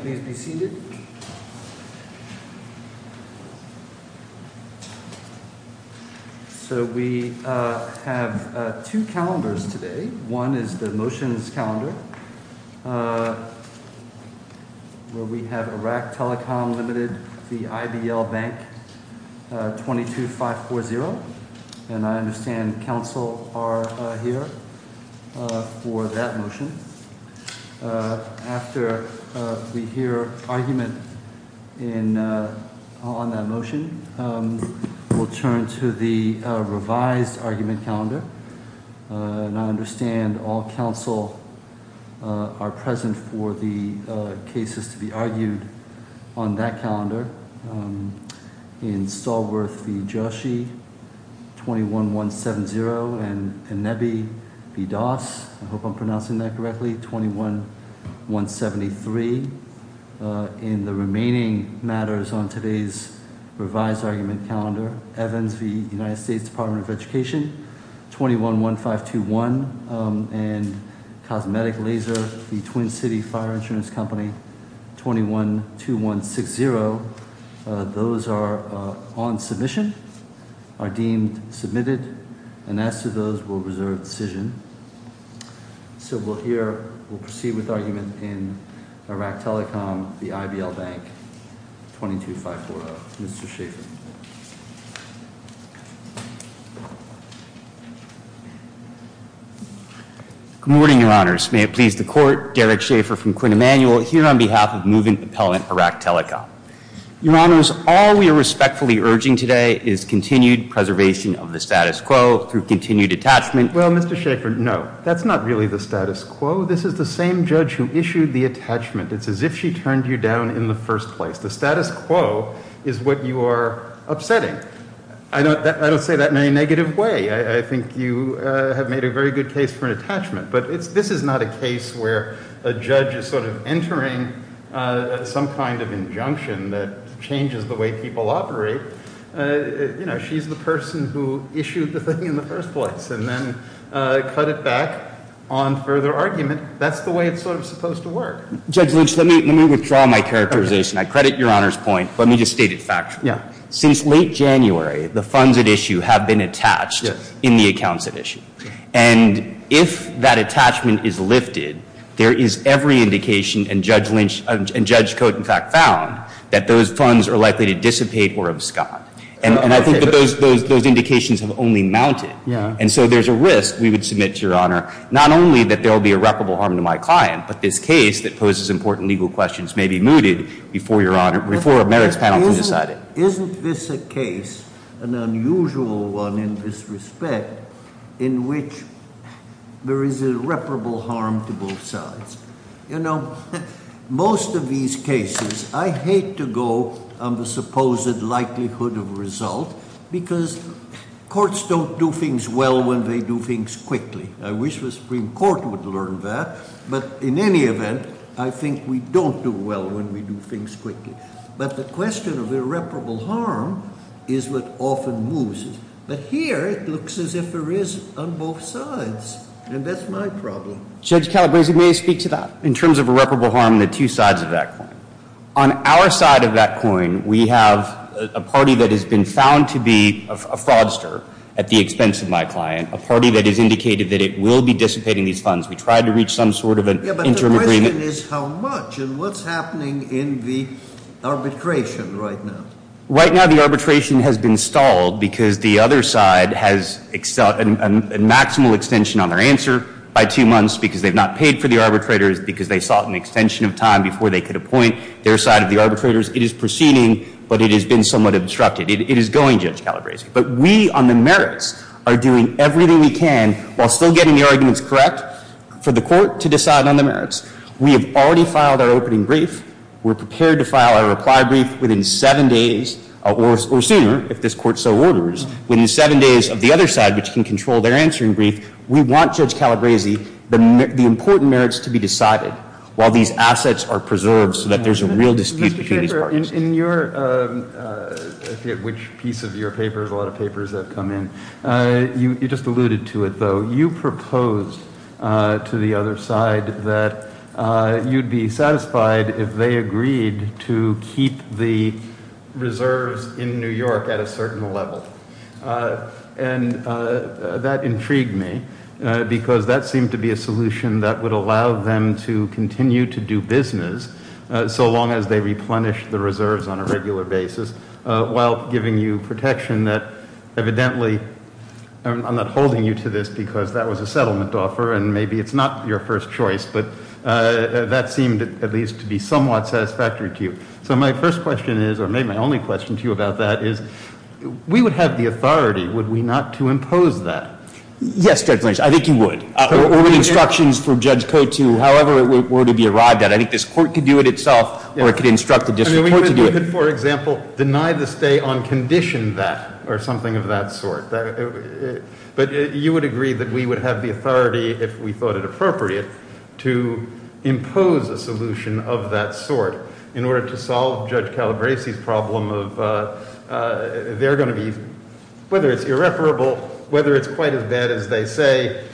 Please be seated. So we have two calendars today. One is the motions calendar where we have Iraq Telecom Limited v. IBL Bank S.A.L. 22540. And I understand counsel are here for that motion. After we hear argument on that motion, we'll turn to the revised argument calendar. And I understand all counsel are present for the cases to be argued on that calendar. In Stallworth v. Joshi, 21170 and Inebi v. Doss, I hope I'm pronouncing that correctly, 21173. In the remaining matters on today's revised argument calendar, Evans v. United States Department of Education, 211521 and Cosmetic Laser v. Twin City Fire Insurance Company, 212160, those are on submission, are deemed submitted, and as to those, we'll reserve decision. So we'll hear, we'll proceed with argument in Iraq Telecom v. IBL Bank 22540. Mr. Schaffer. Good morning, your honors. May it please the court. Derek Schaffer from Quinn Emanuel. I'm here on behalf of moving appellant Iraq Telecom. Your honors, all we are respectfully urging today is continued preservation of the status quo through continued attachment. Well, Mr. Schaffer, no. That's not really the status quo. This is the same judge who issued the attachment. It's as if she turned you down in the first place. The status quo is what you are upsetting. I don't say that in any negative way. I think you have made a very good case for an attachment. But this is not a case where a judge is sort of entering some kind of injunction that changes the way people operate. You know, she's the person who issued the thing in the first place and then cut it back on further argument. That's the way it's sort of supposed to work. Judge Lynch, let me withdraw my characterization. I credit your honors point, but let me just state it factually. Since late January, the funds at issue have been attached in the accounts at issue. And if that attachment is lifted, there is every indication, and Judge Cote in fact found, that those funds are likely to dissipate or abscond. And I think that those indications have only mounted. And so there's a risk, we would submit to your honor, not only that there will be irreparable harm to my client, but this case that poses important legal questions may be mooted before your honor, before a merits panel can decide it. Isn't this a case, an unusual one in this respect, in which there is irreparable harm to both sides? You know, most of these cases, I hate to go on the supposed likelihood of result, because courts don't do things well when they do things quickly. I wish the Supreme Court would learn that, but in any event, I think we don't do well when we do things quickly. But the question of irreparable harm is what often moves it. But here, it looks as if there is on both sides, and that's my problem. Judge Calabresi, may I speak to that? In terms of irreparable harm, the two sides of that coin. On our side of that coin, we have a party that has been found to be a fraudster at the expense of my client. A party that has indicated that it will be dissipating these funds. We tried to reach some sort of an interim agreement. The question is how much, and what's happening in the arbitration right now? Right now, the arbitration has been stalled because the other side has a maximal extension on their answer by two months. Because they've not paid for the arbitrators, because they sought an extension of time before they could appoint their side of the arbitrators. It is proceeding, but it has been somewhat obstructed. It is going, Judge Calabresi. But we, on the merits, are doing everything we can, while still getting the arguments correct, for the court to decide on the merits. We have already filed our opening brief. We're prepared to file our reply brief within seven days, or sooner, if this court so orders. Within seven days of the other side, which can control their answering brief, we want, Judge Calabresi, the important merits to be decided while these assets are preserved so that there's a real dispute between these parties. In your, I forget which piece of your paper, there's a lot of papers that have come in, you just alluded to it, though. You proposed to the other side that you'd be satisfied if they agreed to keep the reserves in New York at a certain level. And that intrigued me, because that seemed to be a solution that would allow them to continue to do business, so long as they replenish the reserves on a regular basis, while giving you protection that, evidently, I'm not holding you to this because that was a settlement offer, and maybe it's not your first choice. But that seemed, at least, to be somewhat satisfactory to you. So my first question is, or maybe my only question to you about that is, we would have the authority, would we not to impose that? Yes, Judge Lynch, I think you would. Or with instructions from Judge Cote to however it were to be arrived at. I think this court could do it itself, or it could instruct the district court to do it. For example, deny the stay on condition that, or something of that sort. But you would agree that we would have the authority, if we thought it appropriate, to impose a solution of that sort. In order to solve Judge Calabresi's problem of, they're going to be, whether it's irreparable, whether it's quite as bad as they say,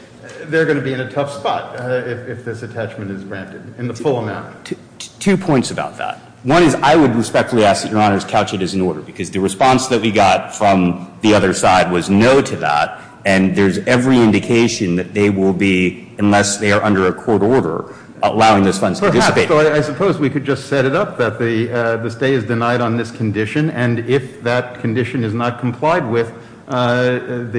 they're going to be in a tough spot if this attachment is granted in the full amount. Two points about that. One is, I would respectfully ask that your honors couch it as an order, because the response that we got from the other side was no to that. And there's every indication that they will be, unless they are under a court order, allowing those funds to dissipate. So I suppose we could just set it up that the stay is denied on this condition. And if that condition is not complied with, the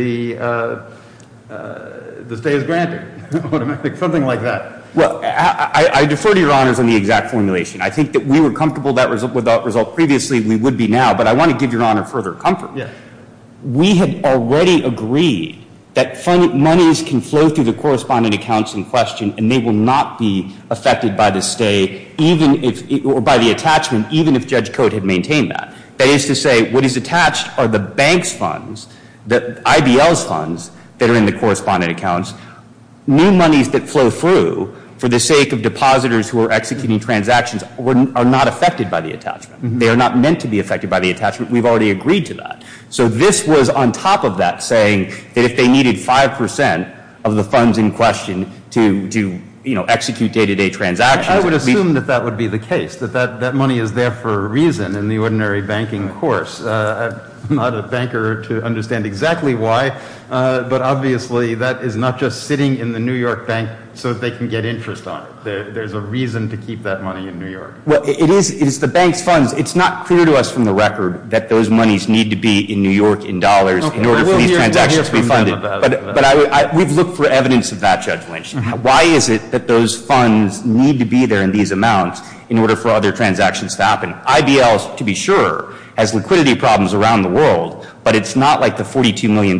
stay is granted, something like that. Well, I defer to your honors on the exact formulation. I think that we were comfortable with that result previously, we would be now. But I want to give your honor further comfort. We have already agreed that monies can flow through the correspondent accounts in question, and they will not be affected by the stay, or by the attachment, even if Judge Cote had maintained that. That is to say, what is attached are the bank's funds, the IBL's funds, that are in the correspondent accounts. New monies that flow through, for the sake of depositors who are executing transactions, are not affected by the attachment. They are not meant to be affected by the attachment. We've already agreed to that. So this was on top of that, saying that if they needed 5% of the funds in question to execute day-to-day transactions- I would assume that that would be the case, that that money is there for a reason in the ordinary banking course. I'm not a banker to understand exactly why, but obviously that is not just sitting in the New York bank so that they can get interest on it. There's a reason to keep that money in New York. Well, it is the bank's funds. It's not clear to us from the record that those monies need to be in New York in dollars in order for these transactions to be funded. But we've looked for evidence of that, Judge Lynch. Why is it that those funds need to be there in these amounts in order for other transactions to happen? IBL, to be sure, has liquidity problems around the world, but it's not like the $42 million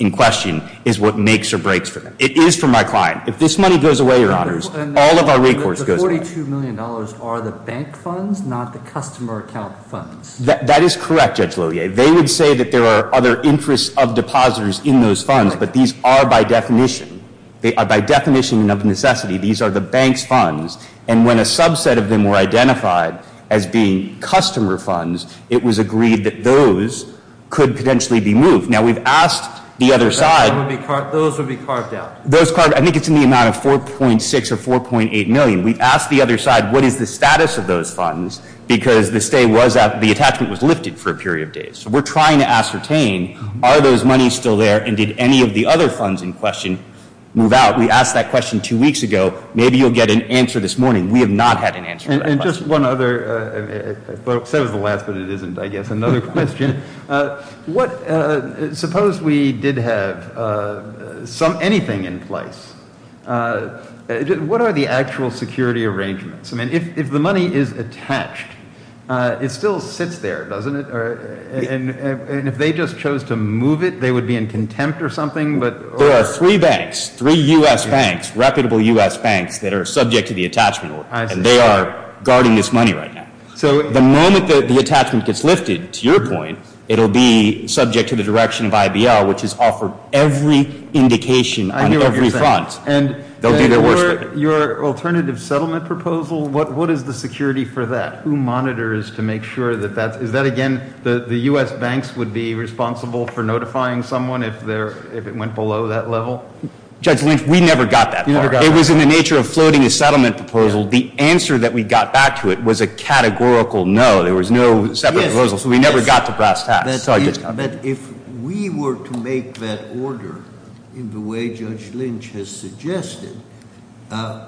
in question is what makes or breaks for them. It is for my client. If this money goes away, your honors, all of our recourse goes away. The $42 million are the bank funds, not the customer account funds. That is correct, Judge Lohier. They would say that there are other interests of depositors in those funds, but these are by definition. They are by definition of necessity. These are the bank's funds, and when a subset of them were identified as being customer funds, it was agreed that those could potentially be moved. Now, we've asked the other side- Those would be carved out. Those carved, I think it's in the amount of 4.6 or 4.8 million. We've asked the other side, what is the status of those funds? Because the attachment was lifted for a period of days. So we're trying to ascertain, are those monies still there, and did any of the other funds in question move out? We asked that question two weeks ago. Maybe you'll get an answer this morning. We have not had an answer to that question. And just one other, I said it was the last, but it isn't, I guess, another question. What, suppose we did have anything in place. What are the actual security arrangements? I mean, if the money is attached, it still sits there, doesn't it? And if they just chose to move it, they would be in contempt or something? There are three banks, three U.S. banks, reputable U.S. banks that are subject to the attachment order. And they are guarding this money right now. The moment that the attachment gets lifted, to your point, it'll be subject to the direction of IBL, which has offered every indication on every front. They'll do their worst for it. Your alternative settlement proposal, what is the security for that? Who monitors to make sure that that's, is that again, the U.S. banks would be responsible for notifying someone if it went below that level? Judge Lynch, we never got that far. It was in the nature of floating a settlement proposal. The answer that we got back to it was a categorical no. There was no separate proposal, so we never got to brass tacks. But if we were to make that order in the way Judge Lynch has suggested,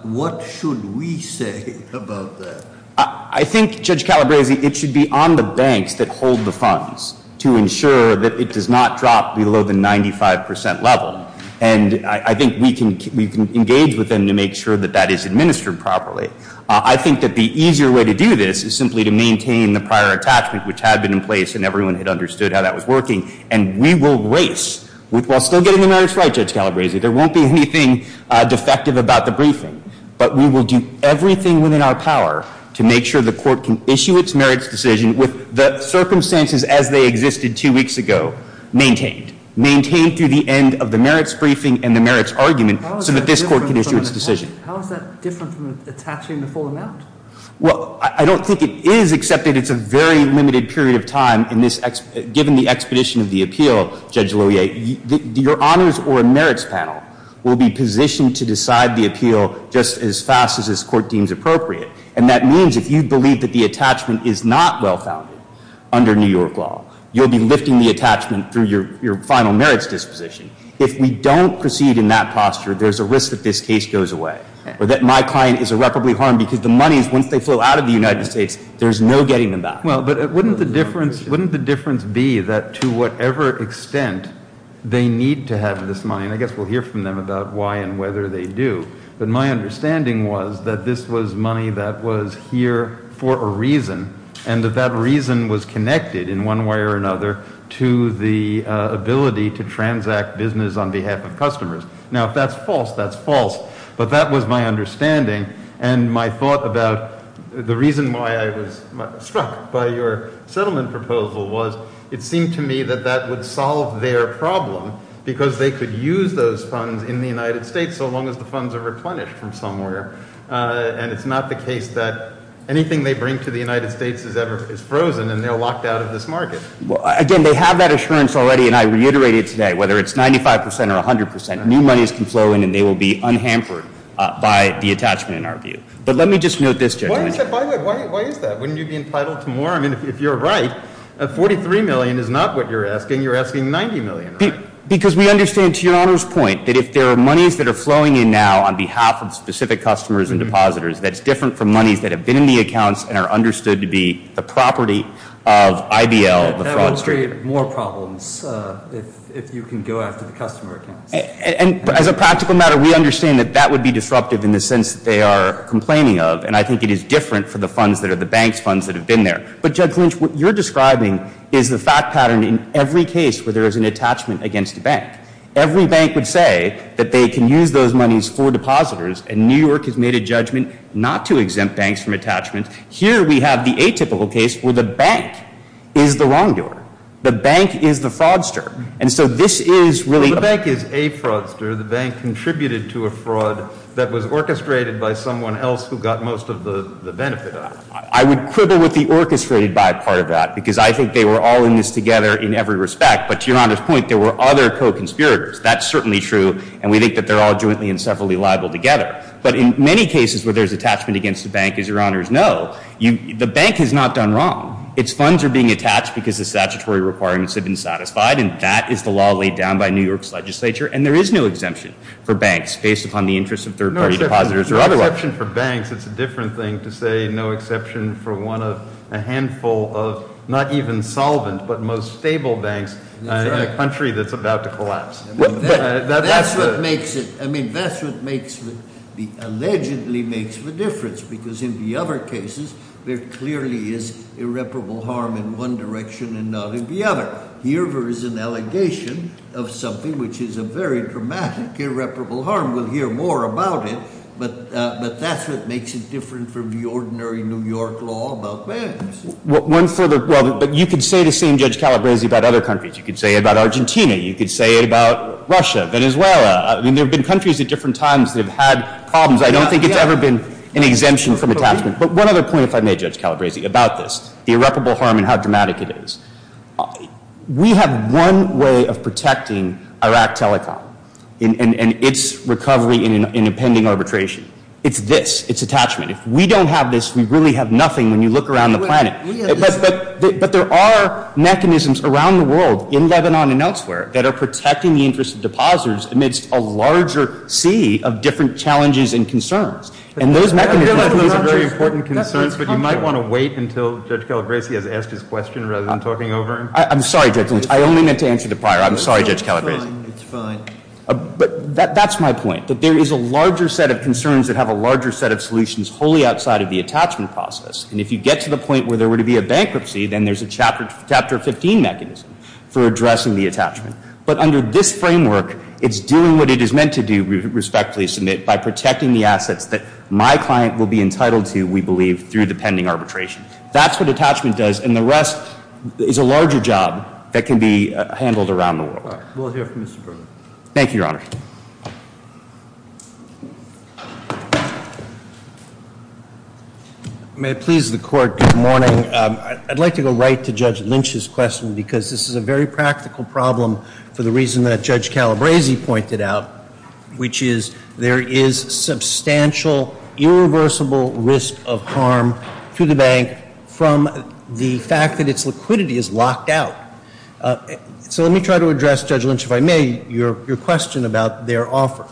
what should we say about that? I think, Judge Calabresi, it should be on the banks that hold the funds to ensure that it does not drop below the 95% level. And I think we can engage with them to make sure that that is administered properly. I think that the easier way to do this is simply to maintain the prior attachment, which had been in place and everyone had understood how that was working. And we will race, while still getting the merits right, Judge Calabresi, there won't be anything defective about the briefing. But we will do everything within our power to make sure the court can issue its merits decision with the circumstances as they existed two weeks ago maintained. Maintained through the end of the merits briefing and the merits argument so that this court can issue its decision. How is that different from attaching the full amount? Well, I don't think it is, except that it's a very limited period of time in this, given the expedition of the appeal, Judge Lohier, your honors or merits panel will be positioned to decide the appeal just as fast as this court deems appropriate. And that means if you believe that the attachment is not well founded under New York law, you'll be lifting the attachment through your final merits disposition. If we don't proceed in that posture, there's a risk that this case goes away. Or that my client is irreparably harmed because the money, once they flow out of the United States, there's no getting them back. Well, but wouldn't the difference be that to whatever extent they need to have this money? And I guess we'll hear from them about why and whether they do. But my understanding was that this was money that was here for a reason. And that that reason was connected in one way or another to the ability to transact business on behalf of customers. Now if that's false, that's false. But that was my understanding and my thought about the reason why I was struck by your settlement proposal was it seemed to me that that would solve their problem. Because they could use those funds in the United States so long as the funds are replenished from somewhere. And it's not the case that anything they bring to the United States is frozen and they're locked out of this market. Well, again, they have that assurance already and I reiterate it today. Whether it's 95% or 100%, new monies can flow in and they will be unhampered by the attachment in our view. But let me just note this, Judge. Why is that? Wouldn't you be entitled to more? I mean, if you're right, 43 million is not what you're asking. You're asking 90 million, right? Because we understand, to your Honor's point, that if there are monies that are flowing in now on behalf of specific customers and depositors that's different from monies that have been in the accounts and are understood to be the property of IBL, the fraudster. That would create more problems if you can go after the customer accounts. And as a practical matter, we understand that that would be disruptive in the sense that they are complaining of. And I think it is different for the funds that are the bank's funds that have been there. But Judge Lynch, what you're describing is the fact pattern in every case where there is an attachment against a bank. Every bank would say that they can use those monies for depositors and New York has made a judgment not to exempt banks from attachments. Here we have the atypical case where the bank is the wrongdoer. The bank is the fraudster. And so this is really- The bank is a fraudster. The bank contributed to a fraud that was orchestrated by someone else who got most of the benefit out of it. I would quibble with the orchestrated by part of that, because I think they were all in this together in every respect. But to Your Honor's point, there were other co-conspirators. That's certainly true, and we think that they're all jointly and separately liable together. But in many cases where there's attachment against the bank, as Your Honors know, the bank has not done wrong. Its funds are being attached because the statutory requirements have been satisfied, and that is the law laid down by New York's legislature. And there is no exemption for banks based upon the interest of third party depositors or otherwise. Exception for banks, it's a different thing to say no exception for one of a handful of, not even solvent, but most stable banks in a country that's about to collapse. That's what makes it, I mean, that's what makes, allegedly makes the difference. Because in the other cases, there clearly is irreparable harm in one direction and not in the other. Here there is an allegation of something which is a very dramatic irreparable harm. And we'll hear more about it, but that's what makes it different from the ordinary New York law about banks. One further, well, but you could say the same, Judge Calabresi, about other countries. You could say it about Argentina. You could say it about Russia, Venezuela. I mean, there have been countries at different times that have had problems. I don't think it's ever been an exemption from attachment. But one other point, if I may, Judge Calabresi, about this, the irreparable harm and how dramatic it is. We have one way of protecting Iraq Telecom and its recovery in impending arbitration. It's this, it's attachment. If we don't have this, we really have nothing when you look around the planet. But there are mechanisms around the world, in Lebanon and elsewhere, that are protecting the interest of depositors amidst a larger sea of different challenges and concerns. And those mechanisms are very important concerns, but you might want to wait until Judge Calabresi has asked his question rather than talking over him. I'm sorry, Judge Lynch. I only meant to answer the prior. I'm sorry, Judge Calabresi. It's fine. But that's my point, that there is a larger set of concerns that have a larger set of solutions wholly outside of the attachment process. And if you get to the point where there were to be a bankruptcy, then there's a Chapter 15 mechanism for addressing the attachment. But under this framework, it's doing what it is meant to do, respectfully submit, by protecting the assets that my client will be entitled to, we believe, through the pending arbitration. That's what attachment does, and the rest is a larger job that can be handled around the world. We'll hear from Mr. Berger. Thank you, Your Honor. May it please the court, good morning. I'd like to go right to Judge Lynch's question, because this is a very practical problem for the reason that Judge Calabresi pointed out, which is there is substantial, irreversible risk of harm to the bank from the fact that its liquidity is locked out. So let me try to address, Judge Lynch, if I may, your question about their offer.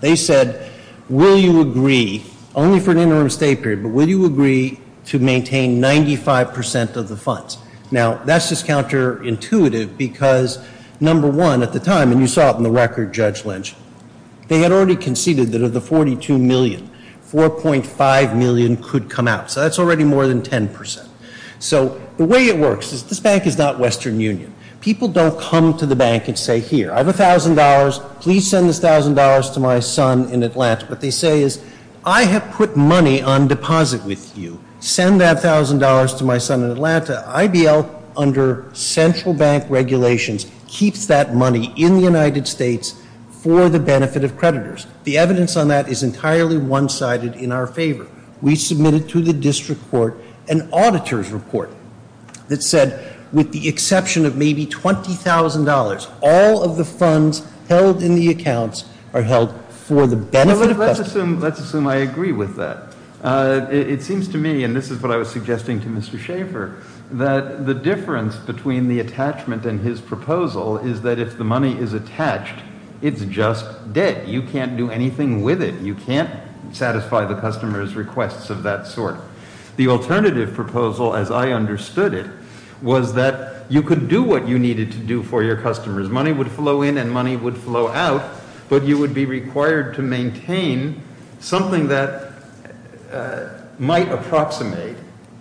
They said, will you agree, only for an interim stay period, but will you agree to maintain 95% of the funds? Now, that's just counterintuitive, because number one, at the time, and you saw it in the record, Judge Lynch, they had already conceded that of the 42 million, 4.5 million could come out. So that's already more than 10%. So the way it works is, this bank is not Western Union. People don't come to the bank and say, here, I have $1,000, please send this $1,000 to my son in Atlanta. What they say is, I have put money on deposit with you, send that $1,000 to my son in Atlanta. The IBL, under central bank regulations, keeps that money in the United States for the benefit of creditors. The evidence on that is entirely one-sided in our favor. We submitted to the district court an auditor's report that said, with the exception of maybe $20,000, all of the funds held in the accounts are held for the benefit of- Well, let's assume I agree with that. It seems to me, and this is what I was suggesting to Mr. Schaefer, that the difference between the attachment and his proposal is that if the money is attached, it's just dead. You can't do anything with it. You can't satisfy the customer's requests of that sort. The alternative proposal, as I understood it, was that you could do what you needed to do for your customers. Money would flow in and money would flow out, but you would be required to maintain something that might approximate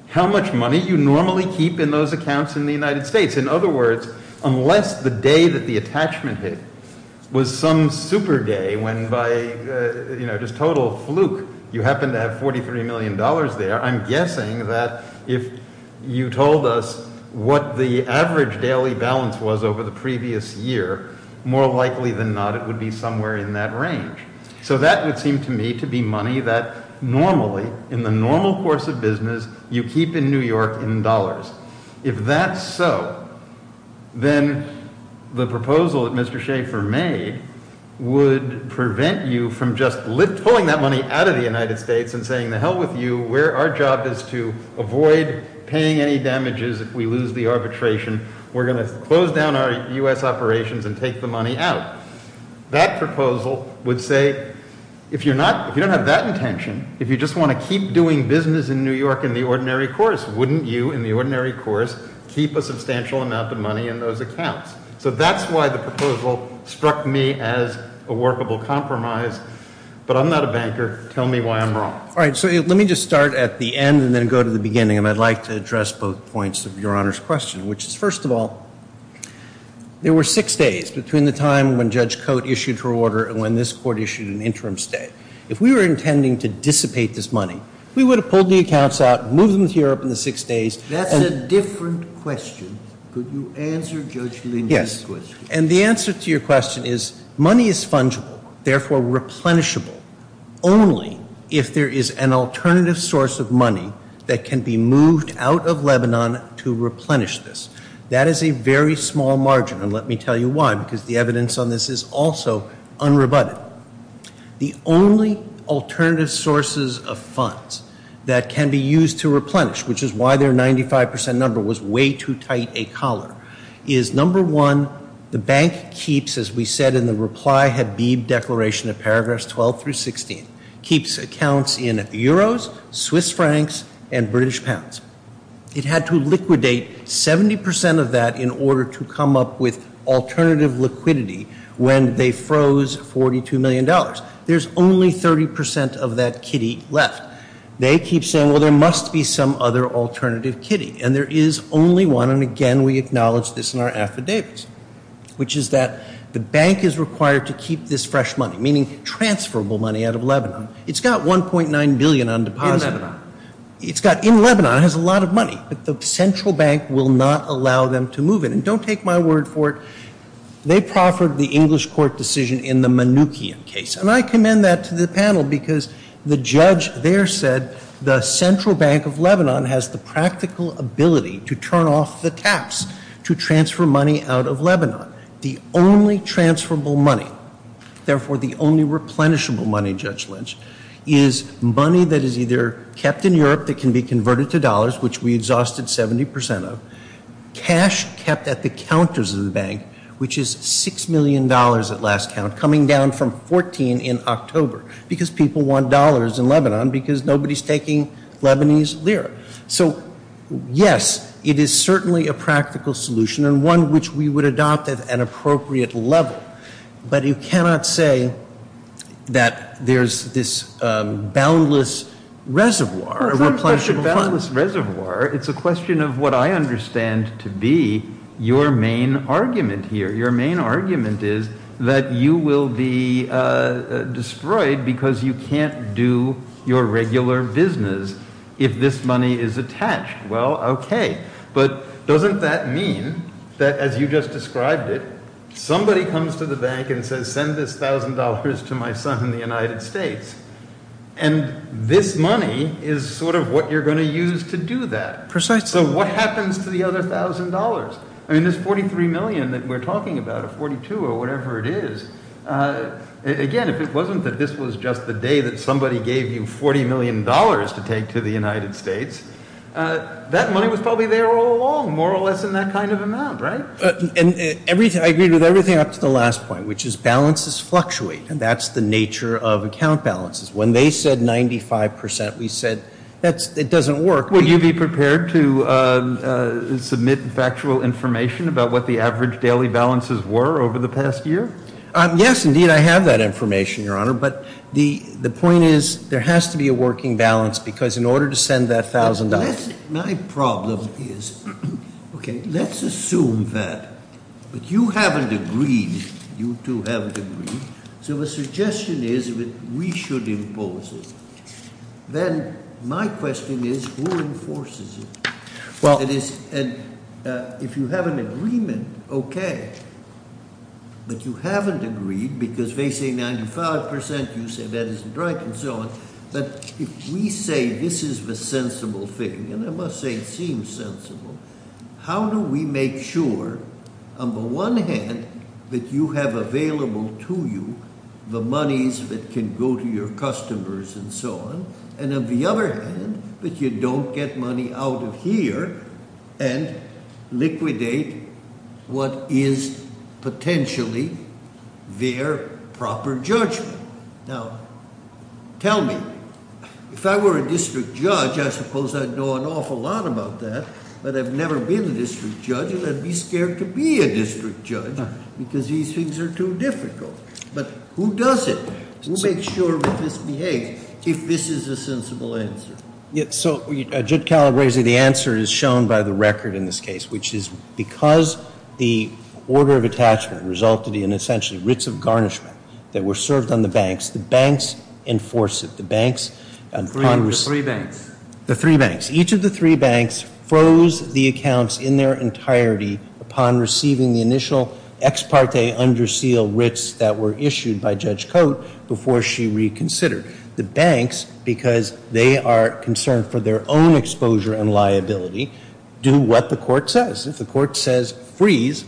how much money you normally keep in those accounts in the United States. In other words, unless the day that the attachment hit was some super day, when by just total fluke, you happen to have $43 million there. I'm guessing that if you told us what the average daily balance was over the previous year, more likely than not it would be somewhere in that range. So that would seem to me to be money that normally, in the normal course of business, you keep in New York in dollars. If that's so, then the proposal that Mr. Schaefer made would prevent you from just pulling that money out of the United States and saying to hell with you, our job is to avoid paying any damages if we lose the arbitration. We're going to close down our US operations and take the money out. That proposal would say, if you don't have that intention, if you just want to keep doing business in New York in the ordinary course, wouldn't you, in the ordinary course, keep a substantial amount of money in those accounts? So that's why the proposal struck me as a workable compromise. But I'm not a banker, tell me why I'm wrong. Let me just start at the end and then go to the beginning. And I'd like to address both points of Your Honor's question, which is, first of all, there were six days between the time when Judge Coate issued her order and when this court issued an interim state. If we were intending to dissipate this money, we would have pulled the accounts out, moved them to Europe in the six days. That's a different question. Could you answer Judge Lindy's question? Yes, and the answer to your question is, money is fungible, therefore replenishable, only if there is an alternative source of money that can be moved out of Lebanon to replenish this. That is a very small margin, and let me tell you why, because the evidence on this is also unrebutted. The only alternative sources of funds that can be used to replenish, which is why their 95% number was way too tight a collar, is number one, the bank keeps, as we said in the reply, Habib Declaration of Paragraphs 12 through 16, keeps accounts in euros, Swiss francs, and British pounds. It had to liquidate 70% of that in order to come up with alternative liquidity when they froze $42 million. There's only 30% of that kitty left. They keep saying, well, there must be some other alternative kitty, and there is only one. And again, we acknowledge this in our affidavits, which is that the bank is required to keep this fresh money, meaning transferable money out of Lebanon. It's got $1.9 billion on deposit. In Lebanon. It's got, in Lebanon, it has a lot of money, but the central bank will not allow them to move it. And don't take my word for it, they proffered the English court decision in the Manukian case, and I commend that to the panel because the judge there said the central bank of Lebanon has the practical ability to turn off the taps to transfer money out of Lebanon. The only transferable money, therefore the only replenishable money, Judge Lynch, is money that is either kept in Europe that can be converted to dollars, which we exhausted 70% of. Cash kept at the counters of the bank, which is $6 million at last count, coming down from 14 in October because people want dollars in Lebanon because nobody's taking Lebanese lira. So, yes, it is certainly a practical solution and one which we would adopt at an appropriate level. But you cannot say that there's this boundless reservoir of replenishable money. It's not a question of boundless reservoir. It's a question of what I understand to be your main argument here. Your main argument is that you will be destroyed because you can't do your regular business if this money is attached. Well, okay. But doesn't that mean that, as you just described it, somebody comes to the bank and says, send this $1,000 to my son in the United States, and this money is sort of what you're going to use to do that? Precisely. So what happens to the other $1,000? I mean, this $43 million that we're talking about, or $42 or whatever it is, again, if it wasn't that this was just the day that somebody gave you $40 million to take to the United States, that money was probably there all along, more or less in that kind of amount, right? And I agree with everything up to the last point, which is balances fluctuate, and that's the nature of account balances. When they said 95%, we said, it doesn't work. Would you be prepared to submit factual information about what the average daily balances were over the past year? Yes, indeed, I have that information, Your Honor. But the point is, there has to be a working balance, because in order to send that $1,000- My problem is, okay, let's assume that, but you haven't agreed, you two haven't agreed. So the suggestion is that we should impose it. Then my question is, who enforces it? Well- And if you have an agreement, okay, but you haven't agreed, because they say 95%, you say that isn't right, and so on. But if we say this is the sensible thing, and I must say it seems sensible, how do we make sure, on the one hand, that you have available to you the monies that can go to your customers and so on, and on the other hand, that you don't get money out of here and liquidate what is potentially their proper judgment? Now, tell me, if I were a district judge, I suppose I'd know an awful lot about that. But I've never been a district judge, and I'd be scared to be a district judge, because these things are too difficult. But who does it? Who makes sure that this behaves, if this is a sensible answer? Yeah, so Judge Calabresi, the answer is shown by the record in this case, which is because the order of attachment resulted in, essentially, writs of garnishment that were served on the banks, the banks enforce it. The banks- Three banks. The three banks. Each of the three banks froze the accounts in their entirety upon receiving the initial ex parte under seal writs that were issued by Judge Cote before she reconsidered. The banks, because they are concerned for their own exposure and liability, do what the court says. If the court says freeze,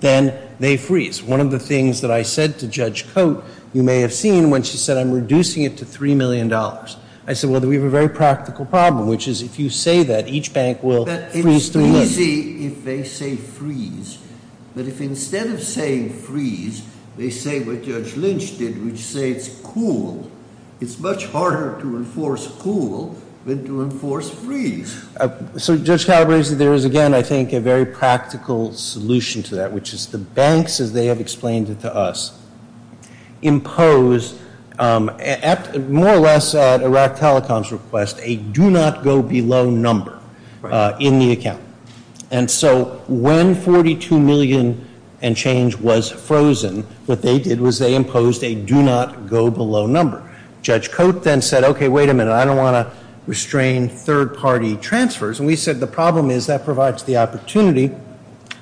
then they freeze. One of the things that I said to Judge Cote, you may have seen when she said I'm reducing it to $3 million. I said, well, we have a very practical problem, which is if you say that, each bank will freeze to look. It's easy if they say freeze, but if instead of saying freeze, they say what Judge Lynch did, which say it's cool, it's much harder to enforce cool than to enforce freeze. So, Judge Calabresi, there is, again, I think, a very practical solution to that, which is the banks, as they have explained it to us, impose at, more or less, at Iraq Telecom's request, a do not go below number in the account. And so, when $42 million and change was frozen, what they did was they imposed a do not go below number. Judge Cote then said, okay, wait a minute, I don't want to restrain third party transfers. And we said the problem is that provides the opportunity,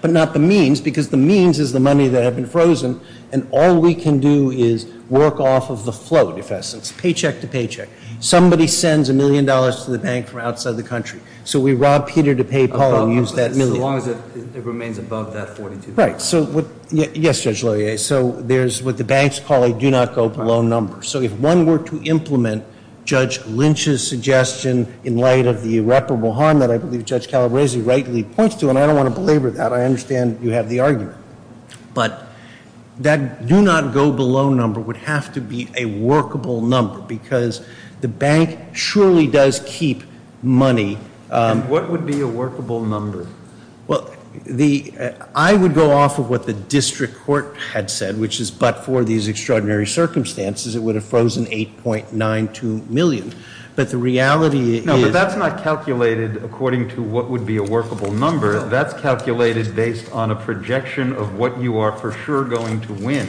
but not the means, because the means is the money that had been frozen. And all we can do is work off of the float, if essence, paycheck to paycheck. Somebody sends a million dollars to the bank from outside the country. So, we rob Peter to pay Paul and use that million. As long as it remains above that $42 million. Right. So, what, yes, Judge Loyer. So, there's what the banks call a do not go below number. So, if one were to implement Judge Lynch's suggestion in light of the irreparable harm that I believe Judge Calabresi rightly points to, and I don't want to belabor that, I understand you have the argument. But that do not go below number would have to be a workable number, because the bank surely does keep money. And what would be a workable number? Well, the, I would go off of what the district court had said, which is but for these extraordinary circumstances, it would have frozen $8.92 million. But the reality is. No, but that's not calculated according to what would be a workable number. That's calculated based on a projection of what you are for sure going to win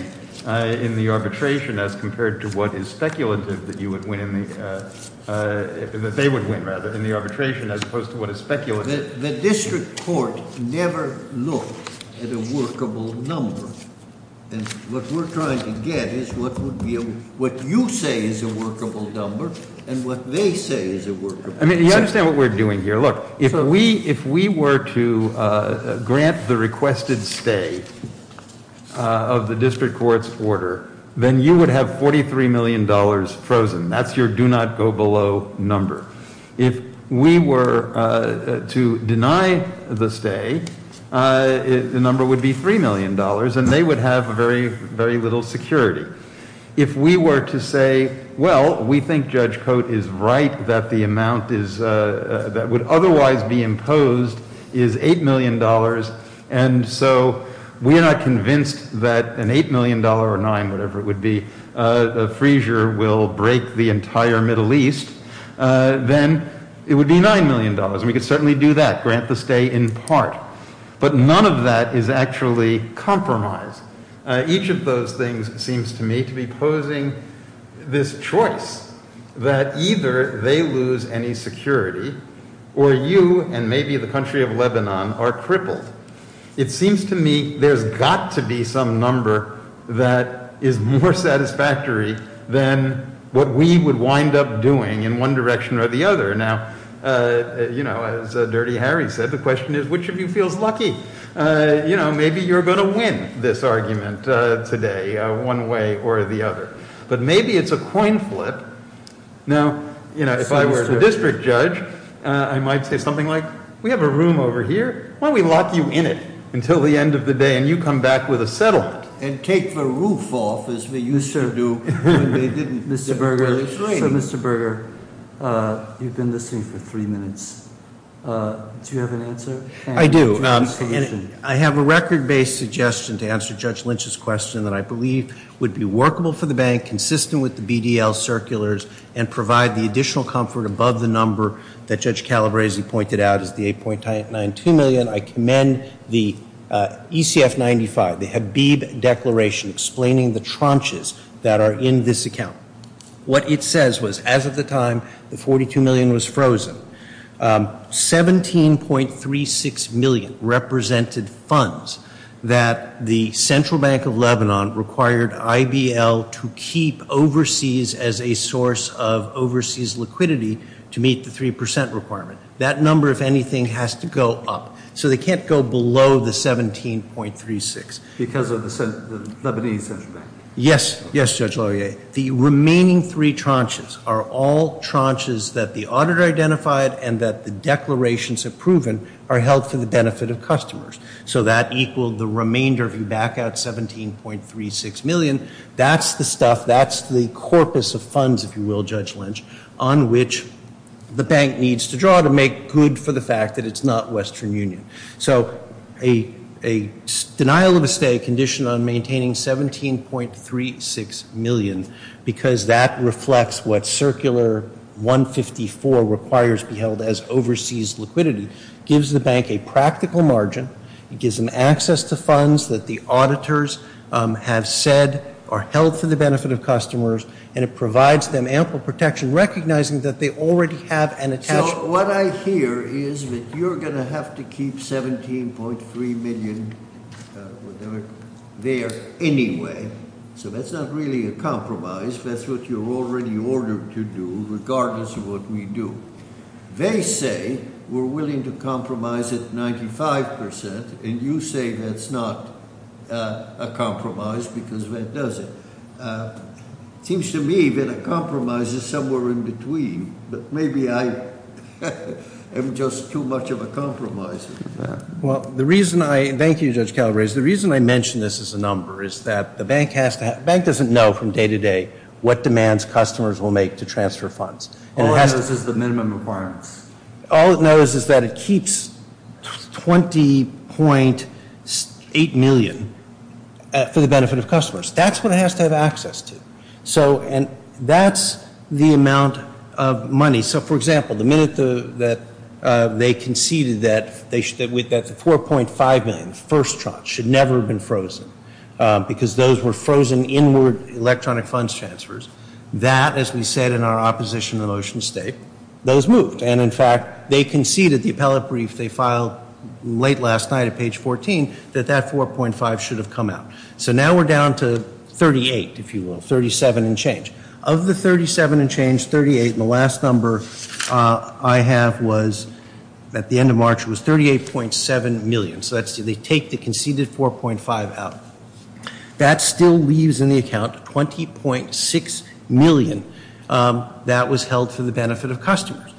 in the arbitration, as compared to what is speculative that you would win in the, that they would win, rather, in the arbitration, as opposed to what is speculative. The district court never looked at a workable number. And what we're trying to get is what would be a, what you say is a workable number, and what they say is a workable number. I mean, you understand what we're doing here. Look, if we were to grant the requested stay of the district court's order, then you would have $43 million frozen, that's your do not go below number. If we were to deny the stay, the number would be $3 million, and they would have very, very little security. If we were to say, well, we think Judge Cote is right, that the amount that would otherwise be imposed is $8 million. And so, we are not convinced that an $8 million or nine, whatever it would be, a freezer will break the entire Middle East. Then it would be $9 million, and we could certainly do that, grant the stay in part. But none of that is actually compromised. Each of those things seems to me to be posing this choice, that either they lose any security, or you and maybe the country of Lebanon are crippled. It seems to me there's got to be some number that is more satisfactory than what we would wind up doing in one direction or the other. Now, as Dirty Harry said, the question is, which of you feels lucky? Maybe you're going to win this argument today, one way or the other. But maybe it's a coin flip. Now, if I were the district judge, I might say something like, we have a room over here. Why don't we lock you in it until the end of the day, and you come back with a settlement? And take the roof off, as we used to do when they didn't give us training. Mr. Berger, you've been listening for three minutes. Do you have an answer? I do. I have a record-based suggestion to answer Judge Lynch's question that I believe would be workable for the bank, consistent with the BDL circulars, and provide the additional comfort above the number that Judge Calabresi pointed out as the 8.92 million. I commend the ECF 95, the Habib Declaration, explaining the tranches that are in this account. What it says was, as of the time, the 42 million was frozen. 17.36 million represented funds that the Central Bank of Lebanon required IBL to keep overseas as a source of overseas liquidity to meet the 3% requirement. That number, if anything, has to go up. So they can't go below the 17.36. Because of the Lebanese Central Bank? Yes. Yes, Judge Laurier. The remaining three tranches are all tranches that the auditor identified and that the declarations have proven are held for the benefit of customers. So that equaled the remainder, if you back out 17.36 million. That's the stuff, that's the corpus of funds, if you will, Judge Lynch, on which the bank needs to draw to make good for the fact that it's not Western Union. So a denial of estate condition on maintaining 17.36 million because that reflects what Circular 154 requires to be held as overseas liquidity, gives the bank a practical margin, it gives them access to funds that the auditors have said are held for the benefit of customers, and it provides them ample protection, recognizing that they already have an attached. What I hear is that you're going to have to keep 17.3 million there anyway. So that's not really a compromise. That's what you're already ordered to do, regardless of what we do. They say we're willing to compromise at 95%, and you say that's not a compromise because that doesn't. It seems to me that a compromise is somewhere in between, but maybe I am just too much of a compromiser. Well, the reason I, thank you Judge Calabrese, the reason I mention this as a number is that the bank has to, bank doesn't know from day to day what demands customers will make to transfer funds. All it knows is the minimum requirements. All it knows is that it keeps 20.8 million for the benefit of customers. That's what it has to have access to. So, and that's the amount of money. So, for example, the minute that they conceded that the 4.5 million, first tranche, should never have been frozen because those were frozen inward electronic funds transfers. That, as we said in our opposition to the motion to state, those moved. And in fact, they conceded the appellate brief they filed late last night at page 14, that that 4.5 should have come out. So now we're down to 38, if you will, 37 and change. Of the 37 and change, 38 and the last number I have was, at the end of March, was 38.7 million. So that's, they take the conceded 4.5 out. That still leaves in the account 20.6 million that was held for the benefit of customers.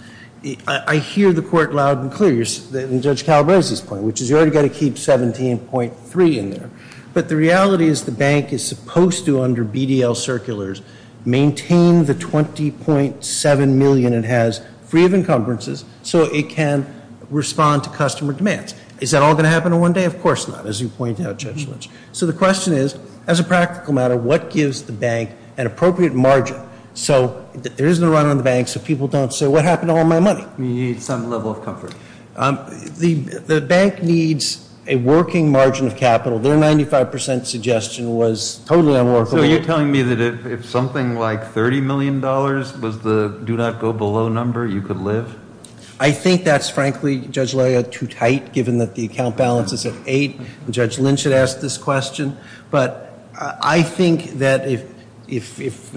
I hear the court loud and clear, and Judge Calabrese's point, which is you already got to keep 17.3 in there. But the reality is the bank is supposed to, under BDL circulars, maintain the 20.7 million it has, free of encumbrances, so it can respond to customer demands. Is that all going to happen in one day? Of course not, as you point out, Judge Lynch. So the question is, as a practical matter, what gives the bank an appropriate margin so that there isn't a run on the bank so people don't say, what happened to all my money? We need some level of comfort. The bank needs a working margin of capital. Their 95% suggestion was totally unworkable. So you're telling me that if something like $30 million was the do not go below number, you could live? I think that's, frankly, Judge Loya, too tight, given that the account balance is at eight. And Judge Lynch had asked this question. But I think that if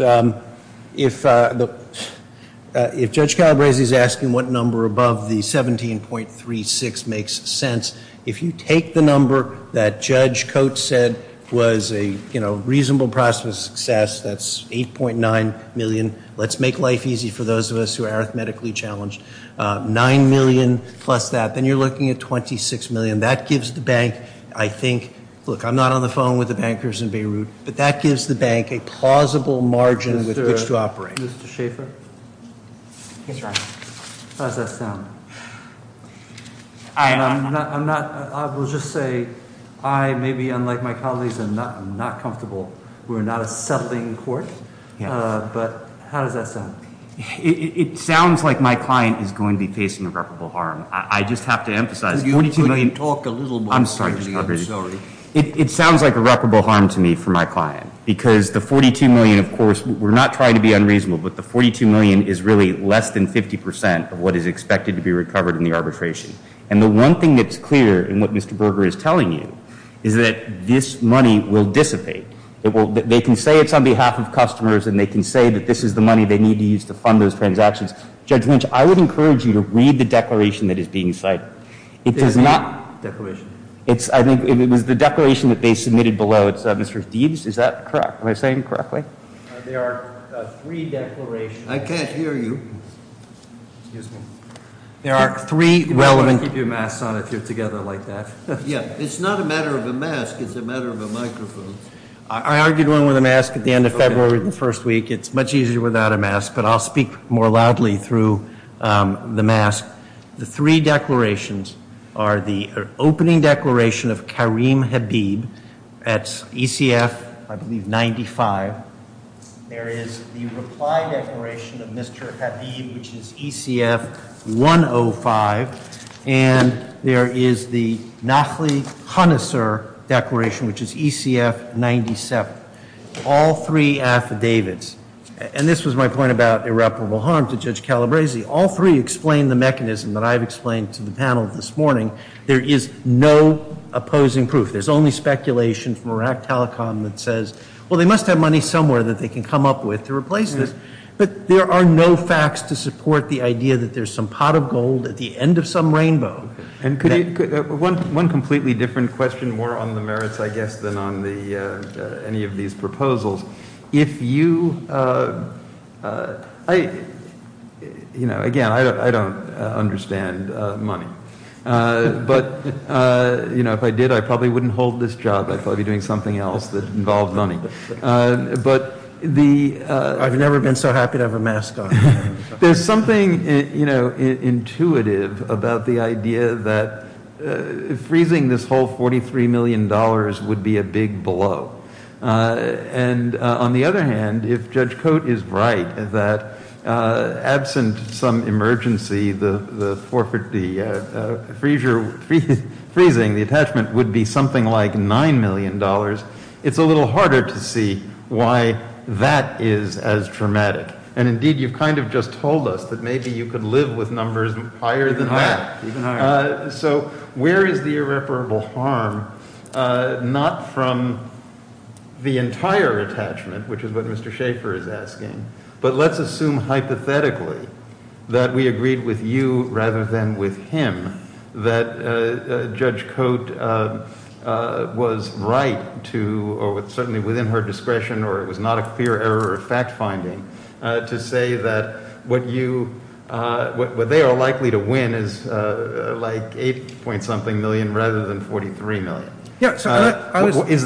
Judge Calabrese's asking what number above the 17.36 makes sense, if you take the number that Judge Coates said was a reasonable prospect of success, that's 8.9 million. Let's make life easy for those of us who are arithmetically challenged. Nine million plus that, then you're looking at 26 million. That gives the bank, I think, look, I'm not on the phone with the bankers in Beirut, but that gives the bank a plausible margin with which to operate. Mr. Schaefer? How does that sound? I'm not, I will just say, I, maybe unlike my colleagues, am not comfortable, we're not a settling court, but how does that sound? It sounds like my client is going to be facing irreparable harm. I just have to emphasize- You could talk a little more- I'm sorry, Judge Calabrese. It sounds like irreparable harm to me for my client. Because the 42 million, of course, we're not trying to be unreasonable. But the 42 million is really less than 50% of what is expected to be recovered in the arbitration. And the one thing that's clear in what Mr. Berger is telling you is that this money will dissipate. It will, they can say it's on behalf of customers and they can say that this is the money they need to use to fund those transactions. Judge Lynch, I would encourage you to read the declaration that is being cited. It does not- Declaration? It's, I think, it was the declaration that they submitted below. It's, Mr. Steeves, is that correct? Am I saying it correctly? There are three declarations. I can't hear you. Excuse me. There are three relevant- You better keep your masks on if you're together like that. Yeah, it's not a matter of a mask, it's a matter of a microphone. I argued one with a mask at the end of February the first week. It's much easier without a mask, but I'll speak more loudly through the mask. The three declarations are the opening declaration of Kareem Habib at ECF, I believe, 95. There is the reply declaration of Mr. Habib, which is ECF 105. And there is the Nahli Hanassar declaration, which is ECF 97. All three affidavits, and this was my point about irreparable harm to Judge Calabresi, all three explain the mechanism that I've explained to the panel this morning. There is no opposing proof. There's only speculation from Iraq Telecom that says, well, they must have money somewhere that they can come up with to replace this. But there are no facts to support the idea that there's some pot of gold at the end of some rainbow. And could you, one completely different question, more on the merits, I guess, than on any of these proposals. If you, again, I don't understand money. But if I did, I probably wouldn't hold this job. I'd probably be doing something else that involved money. But the- I've never been so happy to have a mask on. There's something intuitive about the idea that freezing this whole $43 million would be a big blow. And on the other hand, if Judge Cote is right, that absent some emergency, the freezing, the attachment would be something like $9 million. It's a little harder to see why that is as traumatic. And indeed, you've kind of just told us that maybe you could live with numbers higher than that. So where is the irreparable harm, not from the entire attachment, which is what Mr. Schaefer is asking. But let's assume hypothetically that we agreed with you rather than with him. That Judge Cote was right to, or certainly within her discretion, or it was not a fear error or fact finding, to say that what you, what they are likely to win is like 8 point something million rather than 43 million. Is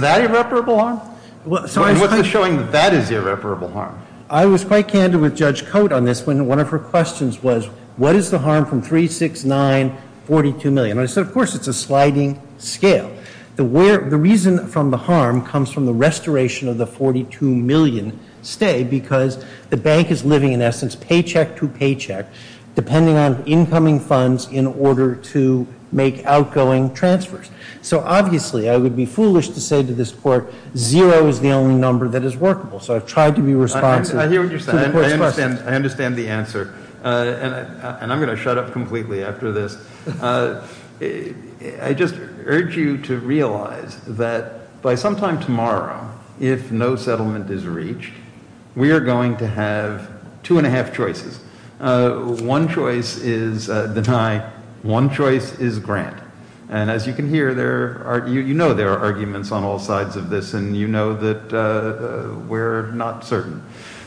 that irreparable harm? What's the showing that that is irreparable harm? I was quite candid with Judge Cote on this when one of her questions was, what is the harm from 3, 6, 9, 42 million? And I said, of course, it's a sliding scale. The reason from the harm comes from the restoration of the 42 million stay because the bank is living in essence paycheck to paycheck, depending on incoming funds in order to make outgoing transfers. So obviously, I would be foolish to say to this court, zero is the only number that is workable. So I've tried to be responsive to the court's questions. I understand the answer. And I'm going to shut up completely after this. I just urge you to realize that by sometime tomorrow, if no settlement is reached, we are going to have two and a half choices. One choice is deny. One choice is grant. And as you can hear, you know there are arguments on all sides of this. And you know that we're not certain.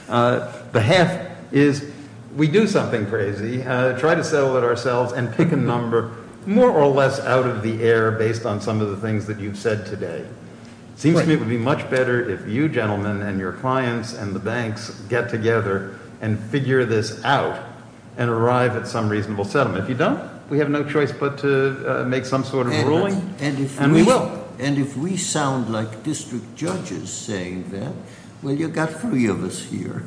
The half is we do something crazy, try to settle it ourselves and pick a number more or less out of the air based on some of the things that you've said today. Seems to me it would be much better if you gentlemen and your clients and the banks get together and figure this out and arrive at some reasonable settlement. If you don't, we have no choice but to make some sort of ruling and we will. And if we sound like district judges saying that, well, you got three of us here.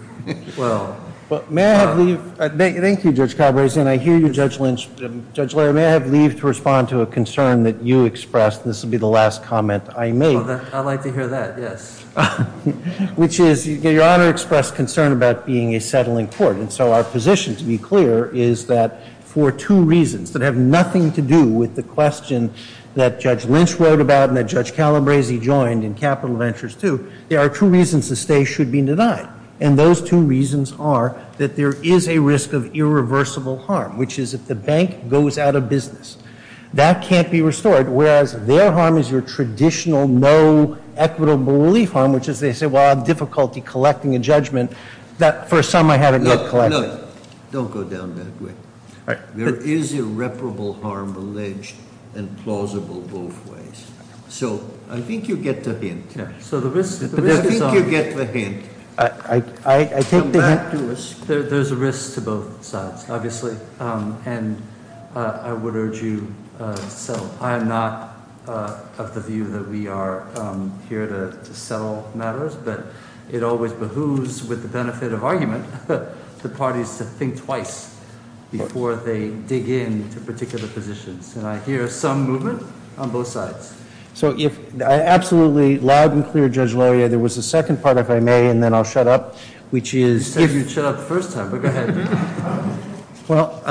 Well. But may I have the, thank you, Judge Calabrese, and I hear you, Judge Lynch. Judge Larry, may I have leave to respond to a concern that you expressed, and this will be the last comment I make. I'd like to hear that, yes. Which is, your honor expressed concern about being a settling court. And so our position, to be clear, is that for two reasons that have nothing to do with the question that Judge Lynch wrote about and that Judge Calabrese joined in Capital Ventures 2, there are two reasons the stay should be denied. And those two reasons are that there is a risk of irreversible harm, which is if the bank goes out of business. That can't be restored, whereas their harm is your traditional no equitable relief harm, which is they say, well, I have difficulty collecting a judgment that for some I haven't yet collected. No, don't go down that way. There is irreparable harm alleged and plausible both ways. So I think you get the hint. So the risk is obvious. I think you get the hint. I think the hint to us. There's a risk to both sides, obviously, and I would urge you to settle. I am not of the view that we are here to settle matters, but it always behooves, with the benefit of argument, the parties to think twice before they dig in to particular positions. And I hear some movement on both sides. So if, absolutely, loud and clear, Judge Loria, there was a second part, if I may, and then I'll shut up, which is- You said you'd shut up the first time, but go ahead. Well,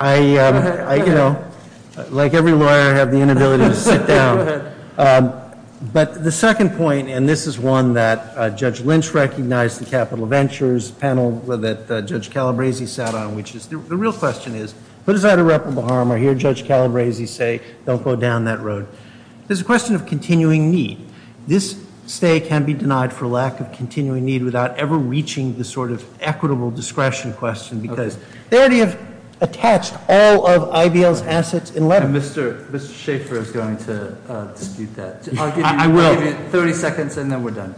I, like every lawyer, have the inability to sit down. Go ahead. But the second point, and this is one that Judge Lynch recognized, the capital ventures panel that Judge Calabresi sat on, which is, the real question is, what is that irreparable harm? I hear Judge Calabresi say, don't go down that road. There's a question of continuing need. This stay can be denied for lack of continuing need without ever reaching the sort of equitable discretion question, and Mr. Schaffer is going to dispute that. I'll give you 30 seconds, and then we're done.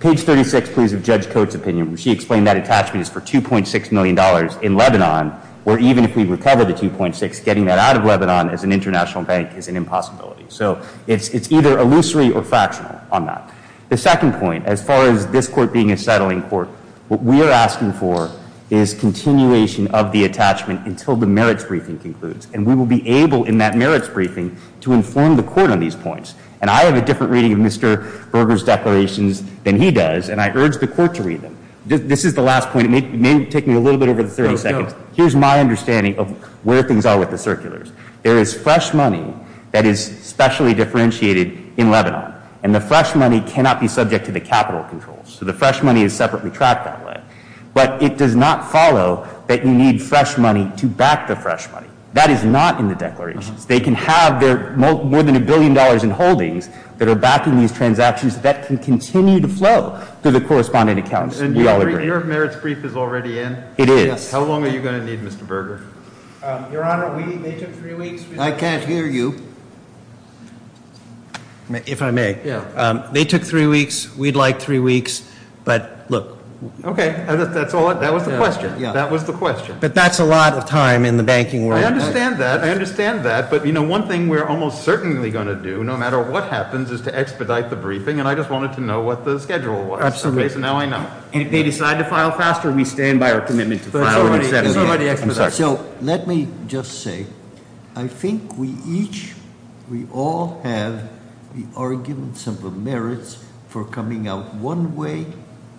Page 36, please, of Judge Coates' opinion. She explained that attachment is for $2.6 million in Lebanon, where even if we recover the 2.6, getting that out of Lebanon as an international bank is an impossibility. So it's either illusory or factional on that. The second point, as far as this court being a settling court, what we are asking for is continuation of the attachment until the merits briefing concludes. And we will be able, in that merits briefing, to inform the court on these points. And I have a different reading of Mr. Berger's declarations than he does, and I urge the court to read them. This is the last point. It may take me a little bit over 30 seconds. Here's my understanding of where things are with the circulars. There is fresh money that is specially differentiated in Lebanon, and the fresh money cannot be subject to the capital controls. So the fresh money is separately tracked that way. But it does not follow that you need fresh money to back the fresh money. That is not in the declarations. They can have more than a billion dollars in holdings that are backing these transactions that can continue to flow through the correspondent accounts. We all agree. Your merits brief is already in? It is. How long are you going to need, Mr. Berger? Your Honor, they took three weeks. I can't hear you. If I may. Yeah. They took three weeks, we'd like three weeks, but look. Okay, that was the question. Yeah. That was the question. But that's a lot of time in the banking world. I understand that, I understand that. But one thing we're almost certainly going to do, no matter what happens, is to expedite the briefing. And I just wanted to know what the schedule was. Absolutely. So now I know. And if they decide to file faster, we stand by our commitment to file on Saturday. It's already expedited. So let me just say, I think we each, we all have the arguments of the merits for coming out one way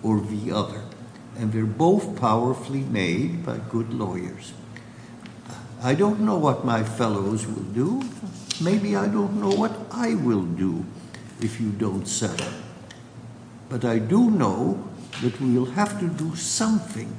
or the other. And they're both powerfully made by good lawyers. I don't know what my fellows will do. Maybe I don't know what I will do if you don't settle. But I do know that we'll have to do something.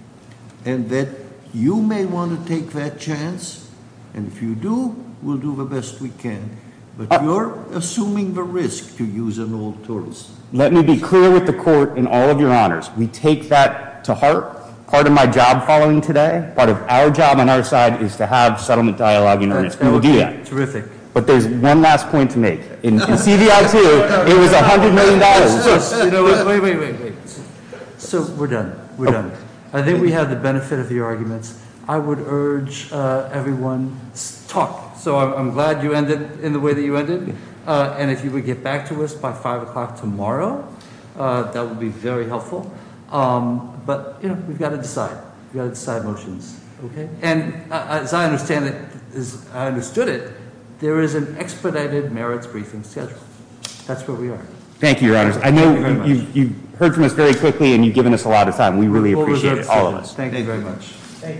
And that you may want to take that chance. And if you do, we'll do the best we can. But you're assuming the risk to use an old tourist. Let me be clear with the court in all of your honors. We take that to heart. Part of my job following today, part of our job on our side, is to have settlement dialogue in earnest. We will do that. Terrific. But there's one last point to make. In CVI 2, it was $100 million. Wait, wait, wait. So we're done. We're done. I think we have the benefit of your arguments. I would urge everyone to talk. So I'm glad you ended in the way that you ended. And if you would get back to us by 5 o'clock tomorrow, that would be very helpful. But we've got to decide. We've got to decide motions. And as I understand it, as I understood it, there is an expedited merits briefing schedule. That's where we are. Thank you, your honors. I know you've heard from us very quickly and you've given us a lot of time. We really appreciate it, all of us. Thank you very much. Thank you very much.